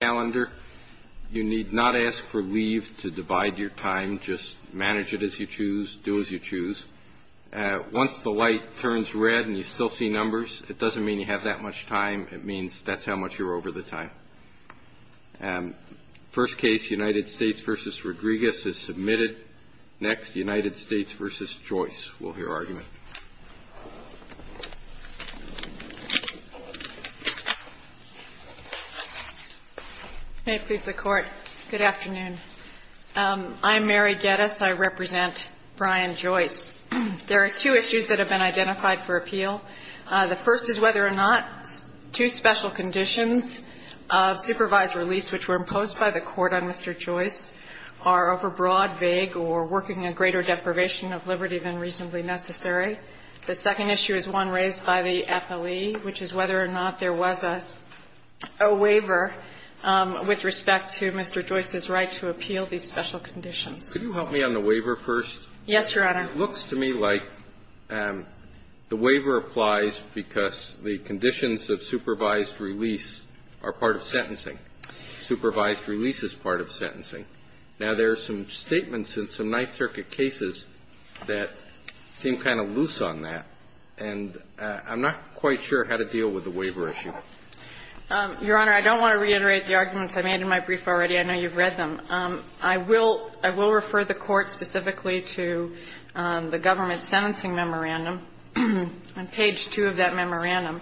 You need not ask for leave to divide your time. Just manage it as you choose. Do as you choose. Once the light turns red and you still see numbers, it doesn't mean you have that much time. It means that's how much you're over the time. First case, United States v. Rodriguez is submitted. Next, United States v. Joyce will hear argument. May it please the Court. Good afternoon. I'm Mary Geddes. I represent Brian Joyce. There are two issues that have been identified for appeal. The first is whether or not two special conditions of supervised release which were imposed by the Court on Mr. Rodrigue or working a greater deprivation of liberty than reasonably necessary. The second issue is one raised by the Appellee, which is whether or not there was a waiver with respect to Mr. Joyce's right to appeal these special conditions. Could you help me on the waiver first? Yes, Your Honor. It looks to me like the waiver applies because the conditions of supervised release are part of sentencing. Supervised release is part of sentencing. Now, there are some statements in some Ninth Circuit cases that seem kind of loose on that, and I'm not quite sure how to deal with the waiver issue. Your Honor, I don't want to reiterate the arguments I made in my brief already. I know you've read them. I will refer the Court specifically to the government sentencing memorandum. On page 2 of that memorandum,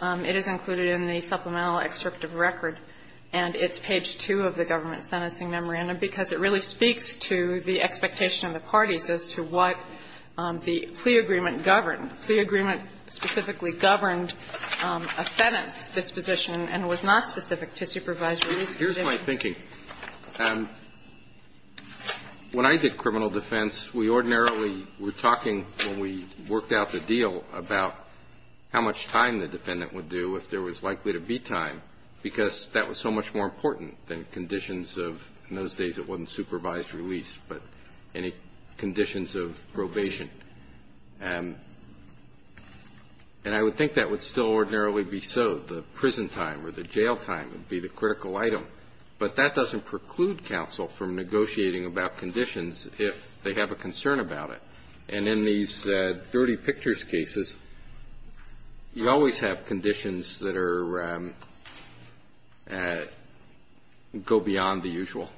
it is included in the supplemental excerpt of record, and it's page 2 of the government sentencing memorandum, because it really speaks to the expectation of the parties as to what the plea agreement governed. The plea agreement specifically governed a sentence disposition and was not specific to supervised release conditions. Here's my thinking. When I did criminal defense, we ordinarily were talking when we worked out the deal about how much time the defendant would do if there was likely to be time, because that was so much more important than conditions of, in those days, it wasn't supervised release, but any conditions of probation. And I would think that would still ordinarily be so. The prison time or the jail time would be the critical item. But that doesn't preclude counsel from negotiating about conditions if they have a concern about it. And in these dirty pictures cases, you always have conditions that are go beyond the usual.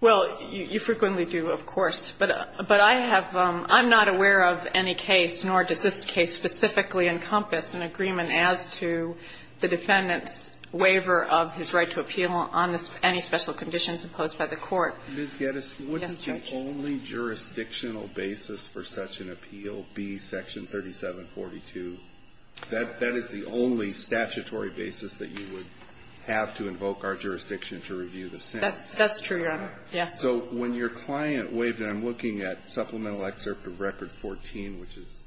Well, you frequently do, of course. But I have not aware of any case, nor does this case specifically encompass an agreement as to the defendant's waiver of his right to appeal on any special conditions imposed by the Court. Ms. Geddes, what is the only jurisdictional basis for such an appeal? B, Section 3742. That is the only statutory basis that you would have to invoke our jurisdiction to review the sentence. That's true, Your Honor. Yes. So when your client waived, and I'm looking at Supplemental Excerpt of Record 14, which is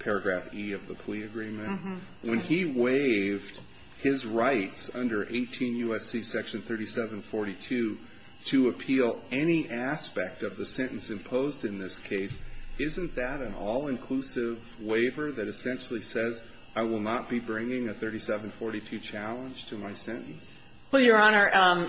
paragraph E of the plea agreement, when he waived his rights under 18 U.S.C. Section 3742 to appeal any aspect of the sentence imposed in this case, isn't that an all-inclusive waiver that essentially says, I will not be bringing a 3742 challenge to my sentence? Well, Your Honor,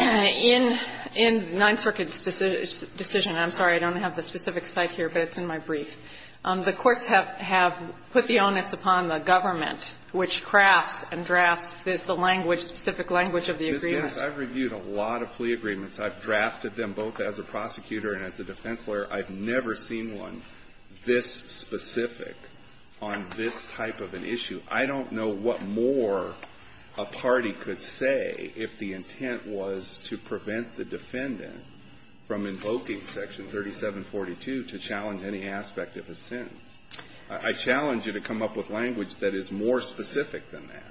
in the Ninth Circuit's decision, and I'm sorry, I don't have the specific site here, but it's in my brief, the courts have put the onus upon the government, which crafts and drafts the language, specific language of the agreement. Ms. Geddes, I've reviewed a lot of plea agreements. I've drafted them both as a prosecutor and as a defense lawyer. I've never seen one this specific on this type of an issue. I don't know what more a party could say if the intent was to prevent the defendant from invoking Section 3742 to challenge any aspect of a sentence. I challenge you to come up with language that is more specific than that.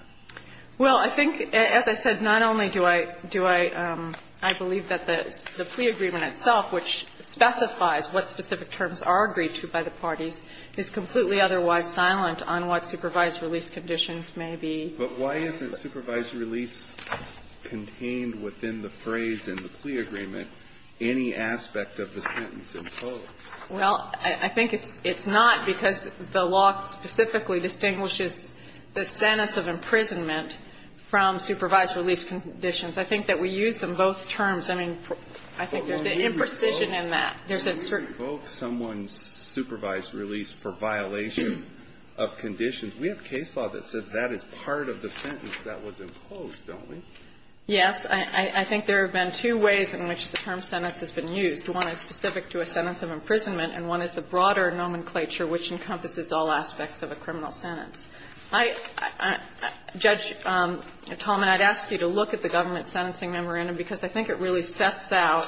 Well, I think, as I said, not only do I do I believe that the plea agreement itself, which specifies what specific terms are agreed to by the parties, is completely otherwise silent on what supervised release conditions may be. But why isn't supervised release contained within the phrase in the plea agreement any aspect of the sentence imposed? Well, I think it's not because the law specifically distinguishes the sentence of imprisonment from supervised release conditions. I think that we use them both terms. I mean, I think there's an imprecision in that. There's a certain ---- Well, when you invoke someone's supervised release for violation of conditions, we have case law that says that is part of the sentence that was imposed, don't we? Yes. I think there have been two ways in which the term sentence has been used. One is specific to a sentence of imprisonment, and one is the broader nomenclature which encompasses all aspects of a criminal sentence. I ---- Judge Talmadge, I'd ask you to look at the government sentencing memorandum because I think it really sets out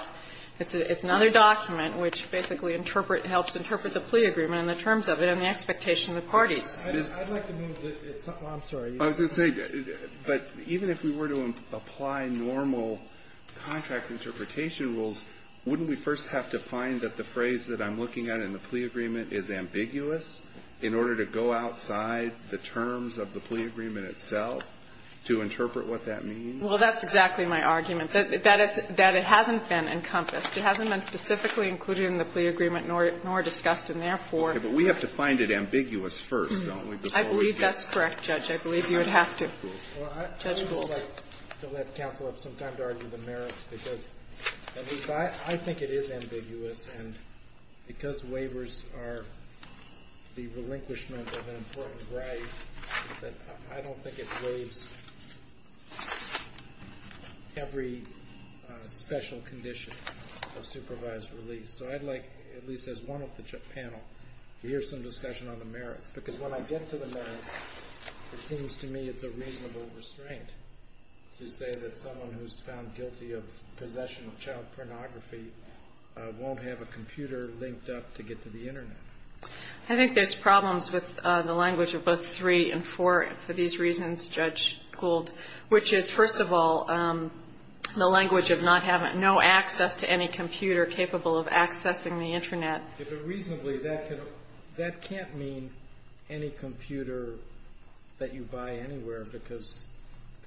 ---- it's another document which basically interpret ---- helps interpret the plea agreement and the terms of it and the expectation of the parties. I'd like to move that it's not ---- well, I'm sorry. I was going to say, but even if we were to apply normal contract interpretation rules, wouldn't we first have to find that the phrase that I'm looking at in the plea agreement is ambiguous in order to go outside the terms of the plea agreement itself to interpret what that means? Well, that's exactly my argument, that it's ---- that it hasn't been encompassed. It hasn't been specifically included in the plea agreement nor discussed, and therefore ---- Okay. But we have to find it ambiguous first, don't we, before we get ---- I believe that's correct, Judge. I believe you would have to. Judge Goldberg. Well, I'd just like to let counsel have some time to argue the merits because I think it is ambiguous, and because waivers are the relinquishment of an important right, I don't think it waives every special condition of supervised release. So I'd like, at least as one of the panel, to hear some discussion on the merits because when I get to the merits, it seems to me it's a reasonable restraint to say that someone who's found guilty of possession of child pornography won't have a computer linked up to get to the Internet. I think there's problems with the language of both 3 and 4 for these reasons, Judge Gold, which is, first of all, the language of not having no access to any computer capable of accessing the Internet. If it reasonably, that can't mean any computer that you buy anywhere because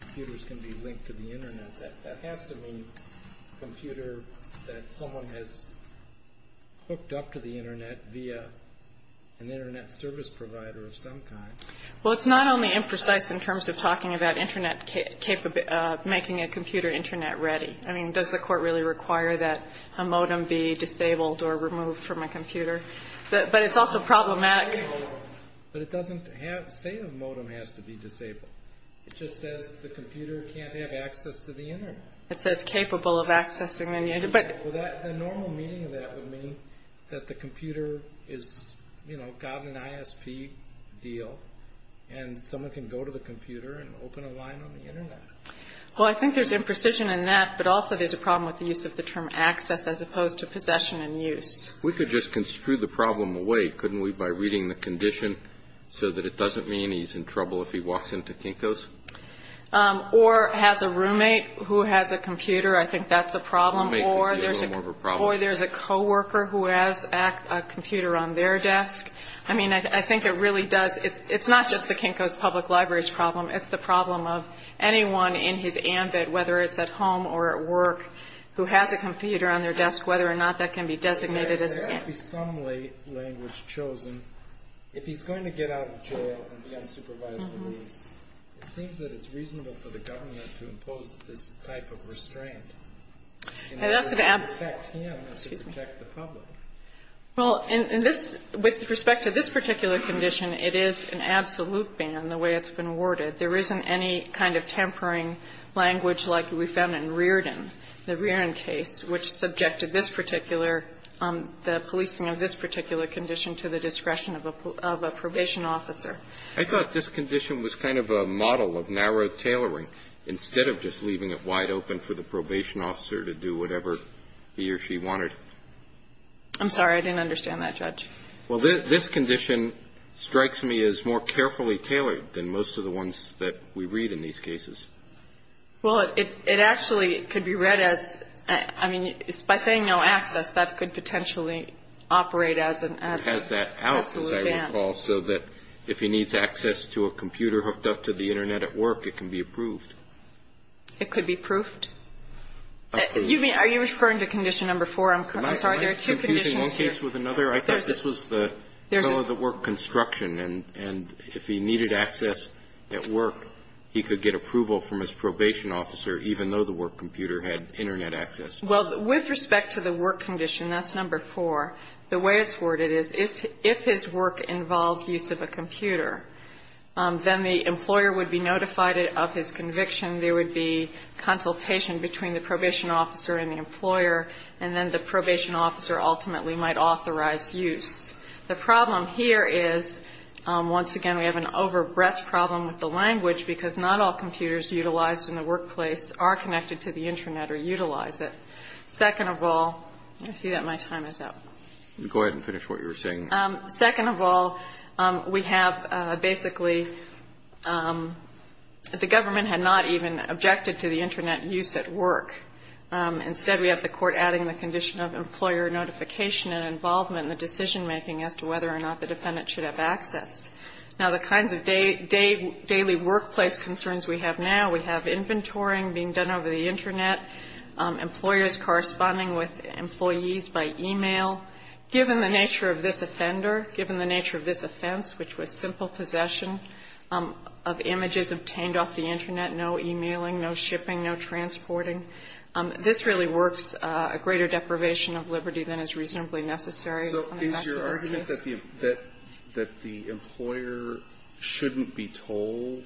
computers can be linked to the Internet. That has to mean a computer that someone has hooked up to the Internet via an Internet service provider of some kind. Well, it's not only imprecise in terms of talking about Internet ---- making a computer Internet ready. I mean, does the Court really require that a modem be disabled or removed from a computer? But it's also problematic ---- But it doesn't say a modem has to be disabled. It just says the computer can't have access to the Internet. It says capable of accessing the Internet, but ---- Well, the normal meaning of that would mean that the computer is, you know, gotten an ISP deal, and someone can go to the computer and open a line on the Internet. Well, I think there's imprecision in that, but also there's a problem with the use of the term access as opposed to possession and use. We could just construe the problem away, couldn't we, by reading the condition so that it doesn't mean he's in trouble if he walks into Kinko's? Or has a roommate who has a computer. I think that's a problem. Or there's a co-worker who has a computer on their desk. I mean, I think it really does ---- it's not just the Kinko's Public Library's problem of anyone in his ambit, whether it's at home or at work, who has a computer on their desk, whether or not that can be designated as ---- But there has to be some language chosen. If he's going to get out of jail and be unsupervised release, it seems that it's reasonable for the government to impose this type of restraint in order to affect him as it would affect the public. Well, in this ---- with respect to this particular condition, it is an absolute ban, the way it's been worded. There isn't any kind of tampering language like we found in Reardon, the Reardon case, which subjected this particular ---- the policing of this particular condition to the discretion of a probation officer. I thought this condition was kind of a model of narrow tailoring, instead of just leaving it wide open for the probation officer to do whatever he or she wanted. I didn't understand that, Judge. Well, this condition strikes me as more carefully tailored than most of the ones that we read in these cases. Well, it actually could be read as ---- I mean, by saying no access, that could potentially operate as an absolute ban. It has that out, as I recall, so that if he needs access to a computer hooked up to the Internet at work, it can be approved. It could be proofed? Approved. You mean, are you referring to condition number four? I'm sorry, there are two conditions here. Am I confusing one case with another? I thought this was the work construction, and if he needed access at work, he could get approval from his probation officer, even though the work computer had Internet access. Well, with respect to the work condition, that's number four. The way it's worded is, if his work involves use of a computer, then the employer would be notified of his conviction. There would be consultation between the probation officer and the employer, and then the probation officer ultimately might authorize use. The problem here is, once again, we have an over-breath problem with the language, because not all computers utilized in the workplace are connected to the Internet or utilize it. Second of all ---- I see that my time is up. Go ahead and finish what you were saying. Second of all, we have basically ---- the government had not even objected to the Internet use at work. Instead, we have the Court adding the condition of employer notification and involvement in the decision-making as to whether or not the defendant should have access. Now, the kinds of daily workplace concerns we have now, we have inventorying being done over the Internet, employers corresponding with employees by e-mail. Given the nature of this offender, given the nature of this offense, which was simple possession of images obtained off the Internet, no e-mailing, no shipping, no transporting, this really works a greater deprivation of liberty than is reasonably necessary on the backs of business. So is your argument that the employer shouldn't be told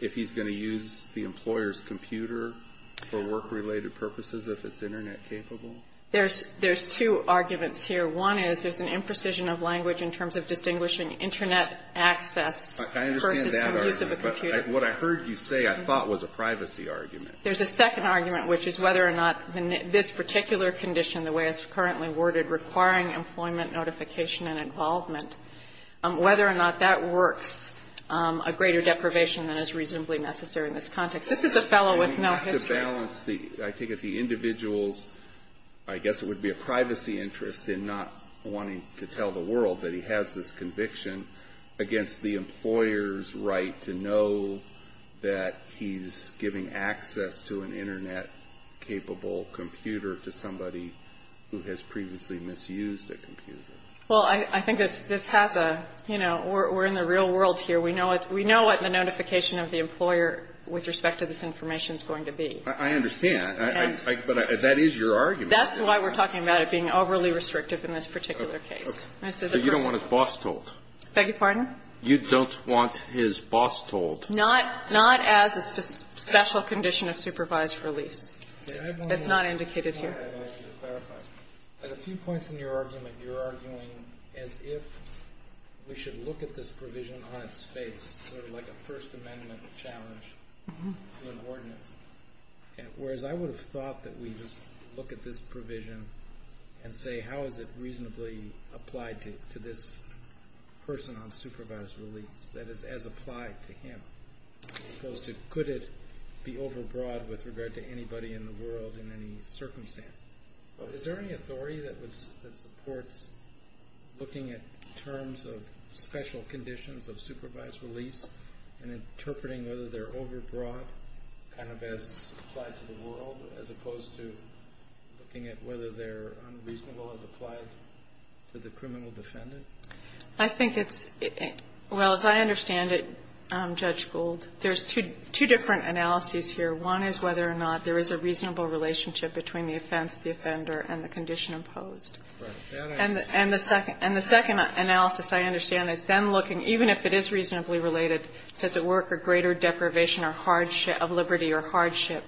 if he's going to use the employer's computer for work-related purposes if it's Internet capable? There's two arguments here. One is there's an imprecision of language in terms of distinguishing Internet access versus the use of a computer. I understand that argument, but what I heard you say I thought was a privacy argument. There's a second argument, which is whether or not this particular condition, the way it's currently worded, requiring employment notification and involvement, whether or not that works a greater deprivation than is reasonably necessary in this context. This is a fellow with no history. I think if the individual's, I guess it would be a privacy interest in not wanting to tell the world that he has this conviction against the employer's right to know that he's giving access to an Internet capable computer to somebody who has previously misused a computer. Well, I think this has a, you know, we're in the real world here. We know what the notification of the employer with respect to this information is going to be. I understand. But that is your argument. That's why we're talking about it being overly restrictive in this particular case. So you don't want his boss told? Beg your pardon? You don't want his boss told? Not as a special condition of supervised release. It's not indicated here. I want you to clarify. At a few points in your argument, you're arguing as if we should look at this provision on its face, sort of like a First Amendment challenge to an ordinance, whereas I would have thought that we just look at this provision and say, how is it reasonably applied to this person on supervised release that is as applied to him? As opposed to could it be overbroad with regard to anybody in the world in any circumstance? Is there any authority that supports looking at terms of special conditions of supervised release and interpreting whether they're overbroad kind of as applied to the world as opposed to looking at whether they're unreasonable as applied to the criminal defendant? I think it's, well, as I understand it, Judge Gould, there's two different analyses here. One is whether or not there is a reasonable relationship between the offense, the offender, and the condition imposed. Right. And the second analysis, I understand, is then looking, even if it is reasonably related, does it work for greater deprivation of liberty or hardship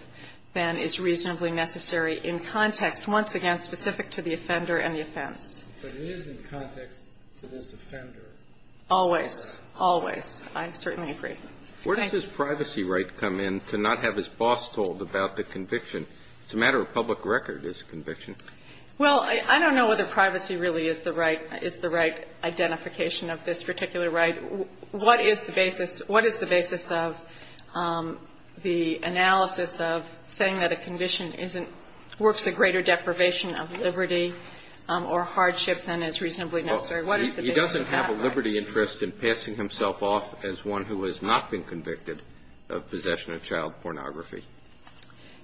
than is reasonably necessary in context, once again specific to the offender and the offense? But it is in context to this offender. Always. Always. I certainly agree. Thank you. Where does this privacy right come in to not have his boss told about the conviction? It's a matter of public record, this conviction. Well, I don't know whether privacy really is the right identification of this particular right. What is the basis of the analysis of saying that a condition isn't, works a greater deprivation of liberty or hardship than is reasonably necessary? What is the basis of that right? Well, he doesn't have a liberty interest in passing himself off as one who has not been convicted of possession of child pornography.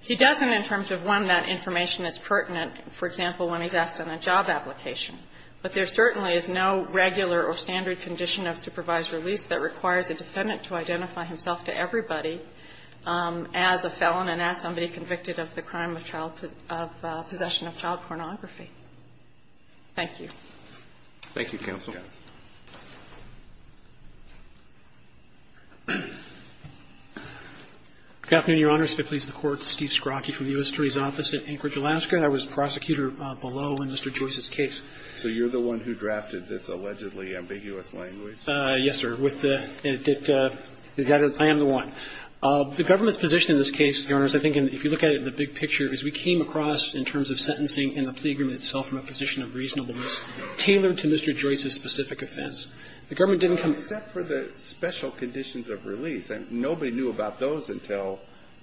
He doesn't in terms of one that information is pertinent, for example, when he's asked on a job application. But there certainly is no regular or standard condition of supervised release that requires a defendant to identify himself to everybody as a felon and as somebody convicted of the crime of child, of possession of child pornography. Thank you. Thank you, counsel. Good afternoon, Your Honors. If it pleases the Court, Steve Scrocchi from the U.S. Attorney's Office at Anchorage Alaska. I was prosecutor below in Mr. Joyce's case. So you're the one who drafted this allegedly ambiguous language? Yes, sir. I am the one. The government's position in this case, Your Honors, I think if you look at it in the big picture, is we came across in terms of sentencing and the plea agreement itself from a position of reasonableness tailored to Mr. Joyce's specific offense. Except for the special conditions of release. Nobody knew about those until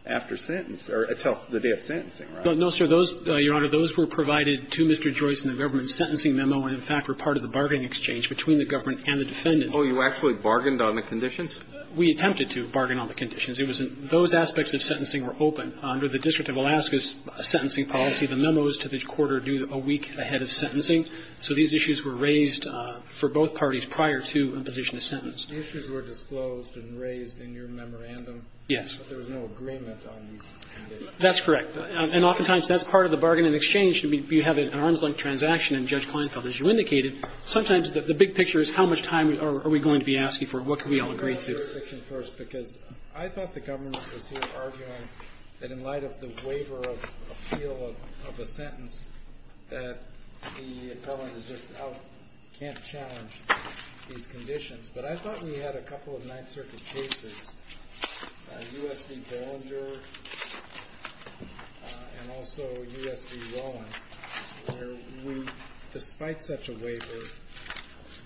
after sentence or until the day of sentencing, right? No, sir. Those, Your Honor, those were provided to Mr. Joyce in the government's sentencing memo and, in fact, were part of the bargaining exchange between the government and the defendant. Oh, you actually bargained on the conditions? We attempted to bargain on the conditions. It was in those aspects of sentencing were open. Under the District of Alaska's sentencing policy, the memo is to the court or due a week ahead of sentencing. So these issues were raised for both parties prior to a position of sentence. The issues were disclosed and raised in your memorandum? But there was no agreement on these conditions? That's correct. And oftentimes that's part of the bargaining exchange. You have an arms-length transaction and Judge Kleinfeld, as you indicated, sometimes the big picture is how much time are we going to be asking for? What can we all agree to? Let me ask your question first because I thought the government was here arguing that in light of the waiver of appeal of a sentence, that the government is just out, can't challenge these conditions. But I thought we had a couple of Ninth Circuit cases. U.S. v. Bollinger and also U.S. v. Rowan, where we, despite such a waiver,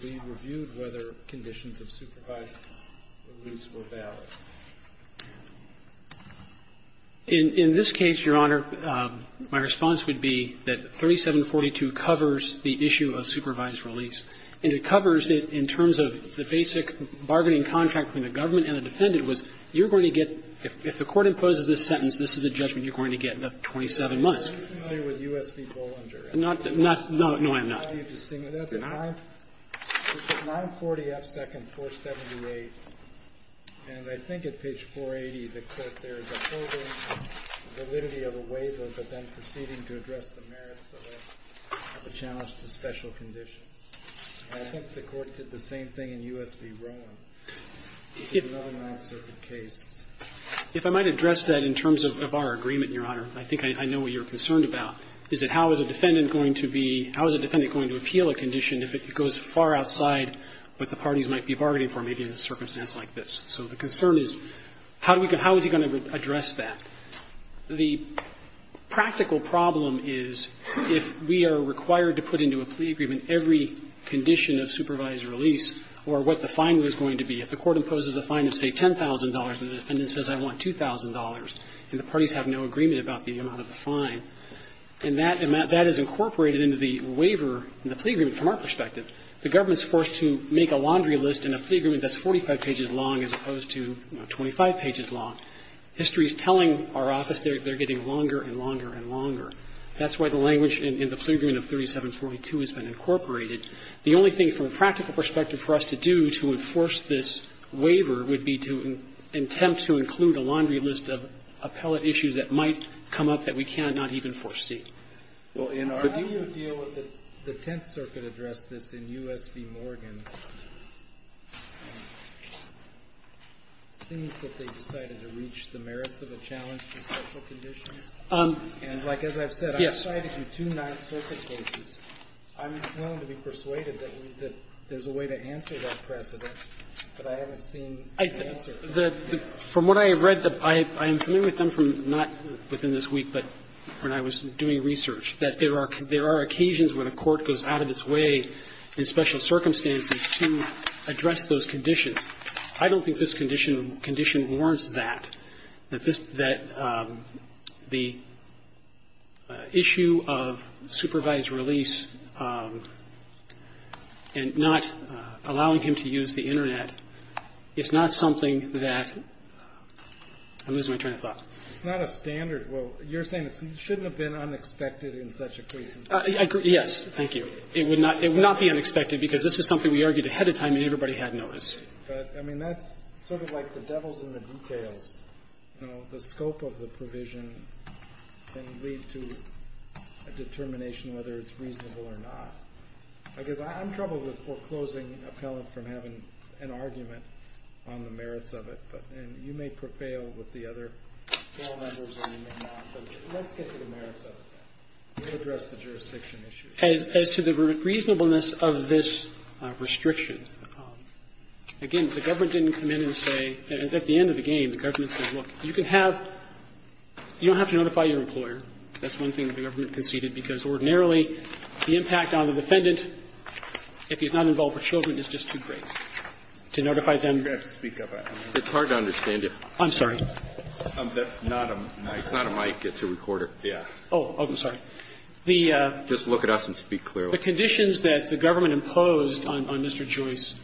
we reviewed whether conditions of supervised release were valid. In this case, Your Honor, my response would be that 3742 covers the issue of supervised release. And it covers it in terms of the basic bargaining contract between the government and the defendant was, you're going to get, if the court imposes this sentence, this is the judgment you're going to get in 27 months. I'm not familiar with U.S. v. Bollinger. No, I'm not. That's at 940 F. 2nd, 478. And I think at page 480, the court there is upholding validity of a waiver, but then proceeding to address the merits of a challenge to special conditions. I think the court did the same thing in U.S. v. Rowan. It's another Ninth Circuit case. If I might address that in terms of our agreement, Your Honor, I think I know what you're concerned about, is that how is a defendant going to be, how is a defendant going to appeal a condition if it goes far outside what the parties might be bargaining for, maybe in a circumstance like this. So the concern is, how is he going to address that? The practical problem is if we are required to put into a plea agreement every condition of supervised release or what the fine was going to be. If the court imposes a fine of, say, $10,000 and the defendant says, I want $2,000 and the parties have no agreement about the amount of the fine, and that is incorporated into the waiver in the plea agreement from our perspective, the government's forced to make a laundry list in a plea agreement that's 45 pages long as opposed to 25 pages long. History is telling our office they're getting longer and longer and longer. That's why the language in the plea agreement of 3742 has been incorporated. The only thing from a practical perspective for us to do to enforce this waiver would be to attempt to include a laundry list of appellate issues that might come up that we cannot even foresee. Well, in our opinion we're not going to do that. I'm willing to be persuaded that there's a way to answer that precedent, but I haven't seen the answer. From what I have read, I am familiar with them from not within this week, but when I was doing research, that there are occasions when a court goes out of its way in special circumstances to address those conditions. I don't think this condition warrants that. The issue of supervised release and not allowing him to use the Internet is not something that I'm losing my train of thought. It's not a standard. Well, you're saying it shouldn't have been unexpected in such a case. Yes. Thank you. It would not be unexpected because this is something we argued ahead of time and everybody had noticed. But, I mean, that's sort of like the devil's in the details. You know, the scope of the provision can lead to a determination whether it's reasonable or not. I guess I'm troubled with foreclosing appellant from having an argument on the merits of it, and you may prevail with the other members or you may not, but let's get to the merits of it. We'll address the jurisdiction issue. Thank you. Thank you. As to the reasonableness of this restriction, again, the government didn't come in and say at the end of the game the government said, look, you can have you don't have to notify your employer. That's one thing the government conceded because ordinarily the impact on the defendant if he's not involved with children is just too great to notify them. It's hard to understand it. I'm sorry. That's not a mic. It's not a mic. It's a recorder. Yeah. Oh, I'm sorry. Just look at us and speak clearly. The conditions that the government imposed on Mr. Joyce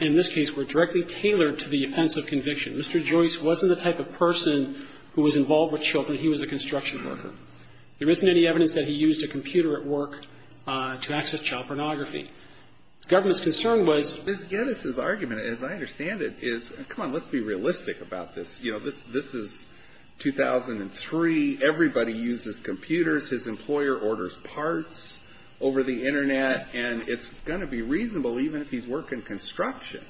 in this case were directly tailored to the offense of conviction. Mr. Joyce wasn't the type of person who was involved with children. He was a construction worker. There isn't any evidence that he used a computer at work to access child pornography. The government's concern was Mrs. Geddes' argument, as I understand it, is come on, let's be realistic about this. You know, this is 2003. Everybody uses computers. His employer orders parts over the Internet, and it's going to be reasonable, even if he's working construction,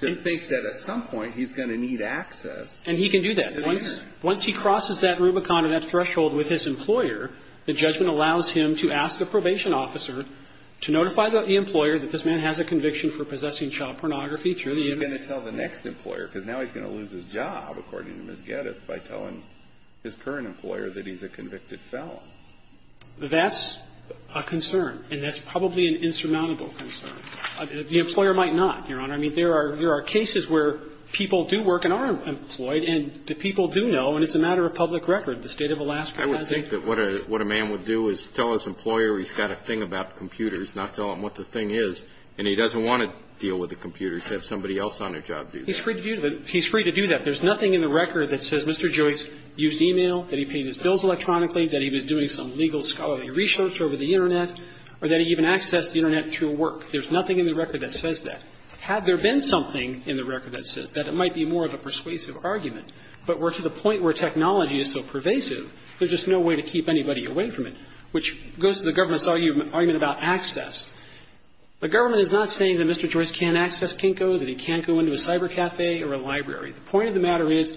to think that at some point he's going to need access to the Internet. And he can do that. Once he crosses that Rubicon or that threshold with his employer, the judgment allows him to ask a probation officer to notify the employer that this man has a conviction for possessing child pornography through the Internet. And he's going to tell the next employer, because now he's going to lose his job, according to Mrs. Geddes, by telling his current employer that he's a convicted felon. That's a concern. And that's probably an insurmountable concern. The employer might not, Your Honor. I mean, there are cases where people do work and are employed, and the people do know, and it's a matter of public record. The State of Alaska has a... I would think that what a man would do is tell his employer he's got a thing about computers, not tell him what the thing is. And he doesn't want to deal with a computer to have somebody else on their job do that. He's free to do that. There's nothing in the record that says Mr. Joyce used e-mail, that he paid his bills electronically, that he was doing some legal scholarly research over the Internet, or that he even accessed the Internet through work. There's nothing in the record that says that. Had there been something in the record that says that, it might be more of a persuasive argument, but we're to the point where technology is so pervasive, there's just no way to keep anybody away from it, which goes to the government's argument about access. The government is not saying that Mr. Joyce can't access Kinko, that he can't go into a cybercafe or a library. The point of the matter is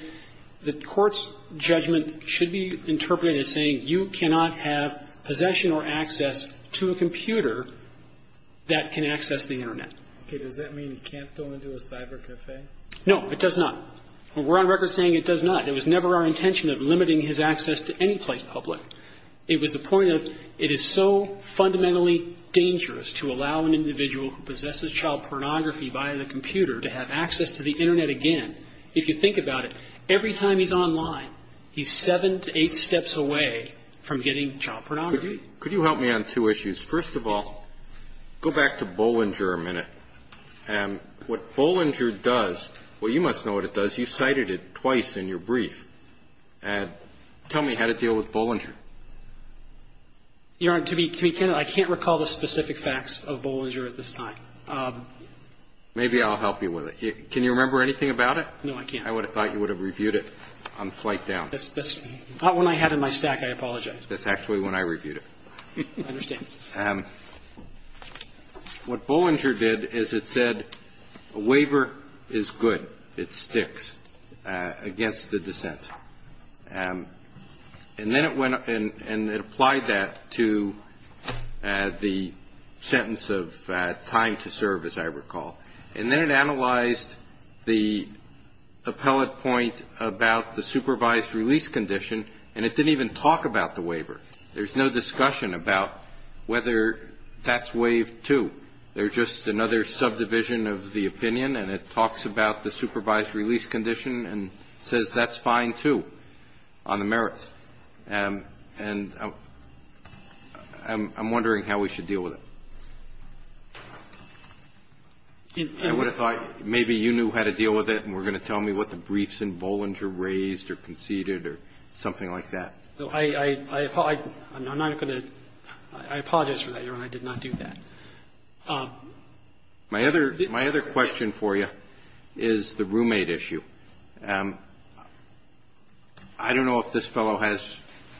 the court's judgment should be interpreted as saying you cannot have possession or access to a computer that can access the Internet. Okay. Does that mean he can't go into a cybercafe? No, it does not. We're on record saying it does not. It was never our intention of limiting his access to any place public. It was the point of, it is so fundamentally dangerous to allow an individual who possesses child pornography via the computer to have access to the Internet again. If you think about it, every time he's online, he's seven to eight steps away from getting child pornography. Could you help me on two issues? First of all, go back to Bollinger a minute. What Bollinger does, well, you must know what it does. You cited it twice in your brief. Tell me how to deal with Bollinger. Your Honor, to be candid, I can't recall the specific facts of Bollinger at this time. Maybe I'll help you with it. Can you remember anything about it? No, I can't. I would have thought you would have reviewed it on the flight down. That's not one I had in my stack. I apologize. That's actually when I reviewed it. I understand. What Bollinger did is it said a waiver is good. It sticks against the dissent. And then it went up and it applied that to the sentence of time to serve, as I recall. And then it analyzed the appellate point about the supervised release condition. And it didn't even talk about the waiver. There's no discussion about whether that's waived, too. There's just another subdivision of the opinion. And it talks about the supervised release condition and says that's fine, too, on the merits. And I'm wondering how we should deal with it. I would have thought maybe you knew how to deal with it and were going to tell me what the briefs in Bollinger raised or conceded or something like that. I apologize for that, Your Honor. I did not do that. My other question for you is the roommate issue. I don't know if this fellow has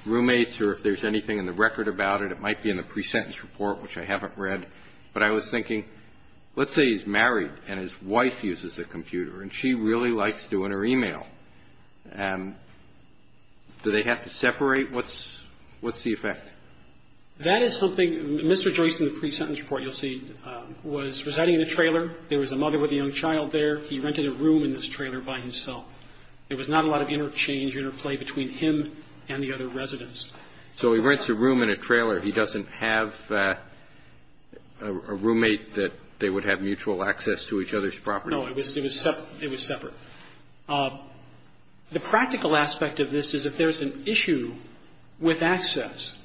roommates or if there's anything in the record about it. It might be in the pre-sentence report, which I haven't read. But I was thinking, let's say he's married and his wife uses the computer and she really likes doing her e-mail. Do they have to separate? What's the effect? That is something Mr. Joyce in the pre-sentence report, you'll see, was residing in a trailer. There was a mother with a young child there. He rented a room in this trailer by himself. There was not a lot of interchange or interplay between him and the other residents. So he rents a room in a trailer. He doesn't have a roommate that they would have mutual access to each other's property. No. It was separate. It was separate. The practical aspect of this is if there's an issue with access,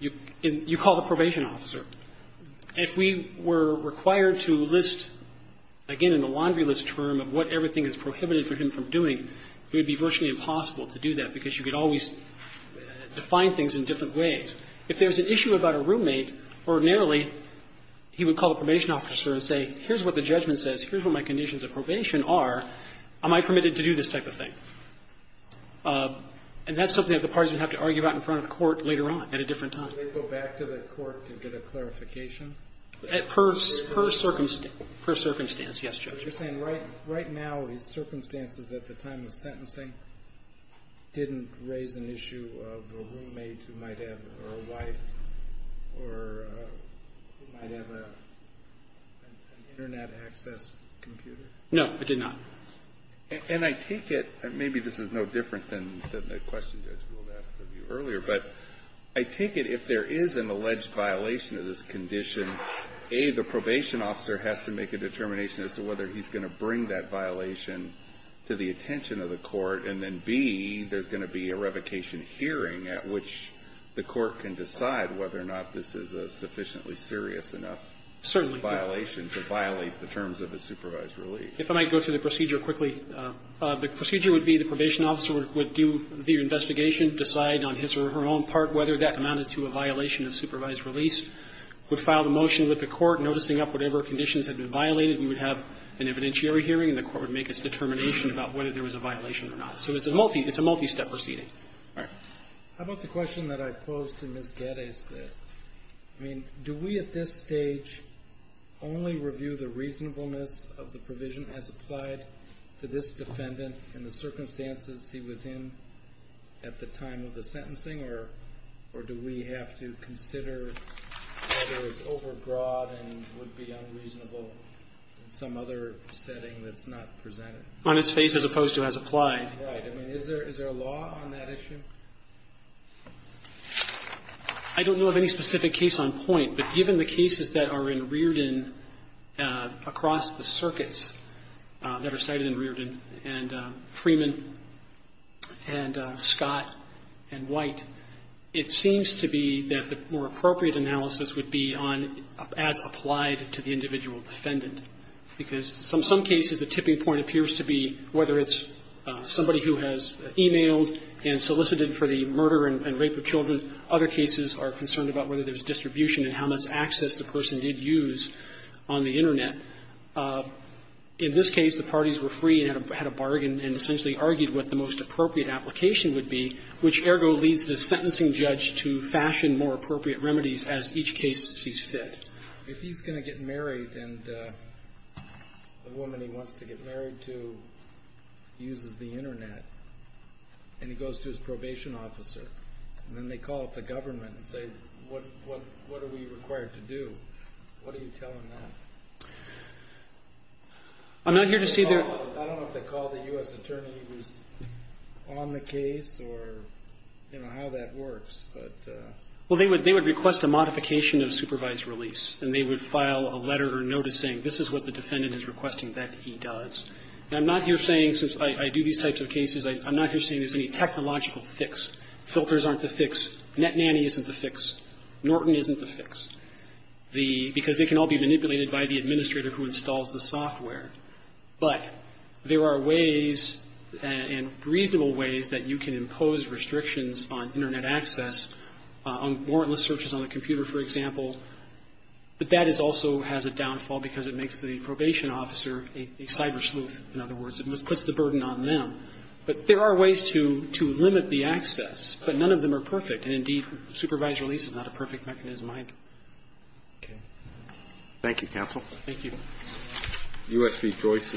you call the probation officer. If we were required to list, again, in the laundry list term of what everything is prohibited for him from doing, it would be virtually impossible to do that because you could always define things in different ways. If there's an issue about a roommate, ordinarily he would call the probation officer and say, here's what the judgment says. Here's what my conditions of probation are. Am I permitted to do this type of thing? And that's something that the parties would have to argue about in front of the court later on at a different time. So they'd go back to the court to get a clarification? Per circumstance, yes, Judge. But you're saying right now, in circumstances at the time of sentencing, didn't raise an issue of a roommate who might have a wife or might have an Internet access computer? No, it did not. And I take it, and maybe this is no different than the question Judge Wold asked of you earlier, but I take it if there is an alleged violation of this condition, A, the probation officer has to make a determination as to whether he's going to bring that violation to the attention of the court, and then B, there's going to be a revocation hearing at which the court can decide whether or not this is a sufficiently serious enough violation to violate the terms of the supervised release. If I might go through the procedure quickly. The procedure would be the probation officer would do the investigation, decide on his or her own part whether that amounted to a violation of supervised release, would file the motion with the court, noticing up whatever conditions had been violated. We would have an evidentiary hearing, and the court would make its determination about whether there was a violation or not. So it's a multi-step proceeding. All right. How about the question that I posed to Ms. Gaddeh? I mean, do we at this stage only review the reasonableness of the provision as applied to this defendant in the circumstances he was in at the time of the sentencing, or do we have to consider whether it's overbroad and would be unreasonable in some other setting that's not presented? On its face as opposed to as applied. Right. I mean, is there a law on that issue? I don't know of any specific case on point, but given the cases that are in Reardon across the circuits that are cited in Reardon, and Freeman and Scott and White, it seems to be that the more appropriate analysis would be on as applied to the individual defendant, because in some cases the tipping point appears to be whether it's somebody who has e-mailed and solicited for the murder and rape of children. Other cases are concerned about whether there's distribution and how much access the person did use on the Internet. In this case, the parties were free and had a bargain and essentially argued what the most appropriate application would be, which, ergo, leads the sentencing judge to fashion more appropriate remedies as each case sees fit. If he's going to get married and the woman he wants to get married to uses the Internet and he goes to his probation officer, and then they call up the government and say, what are we required to do, what are you telling them? I'm not here to say that. I don't know if they call the U.S. attorney who's on the case or, you know, how that works, but. Well, they would request a modification of supervised release, and they would file a letter or notice saying, this is what the defendant is requesting that he does. And I'm not here saying, since I do these types of cases, I'm not here saying there's any technological fix. Filters aren't the fix. Netnanny isn't the fix. Norton isn't the fix. Because they can all be manipulated by the administrator who installs the software. But there are ways and reasonable ways that you can impose restrictions on Internet access, on warrantless searches on the computer, for example. But that is also has a downfall because it makes the probation officer a cyber-sleuth. In other words, it puts the burden on them. But there are ways to limit the access. But none of them are perfect. And, indeed, supervised release is not a perfect mechanism either. Roberts. Thank you, counsel. Thank you. U.S. v. Joyce is submitted.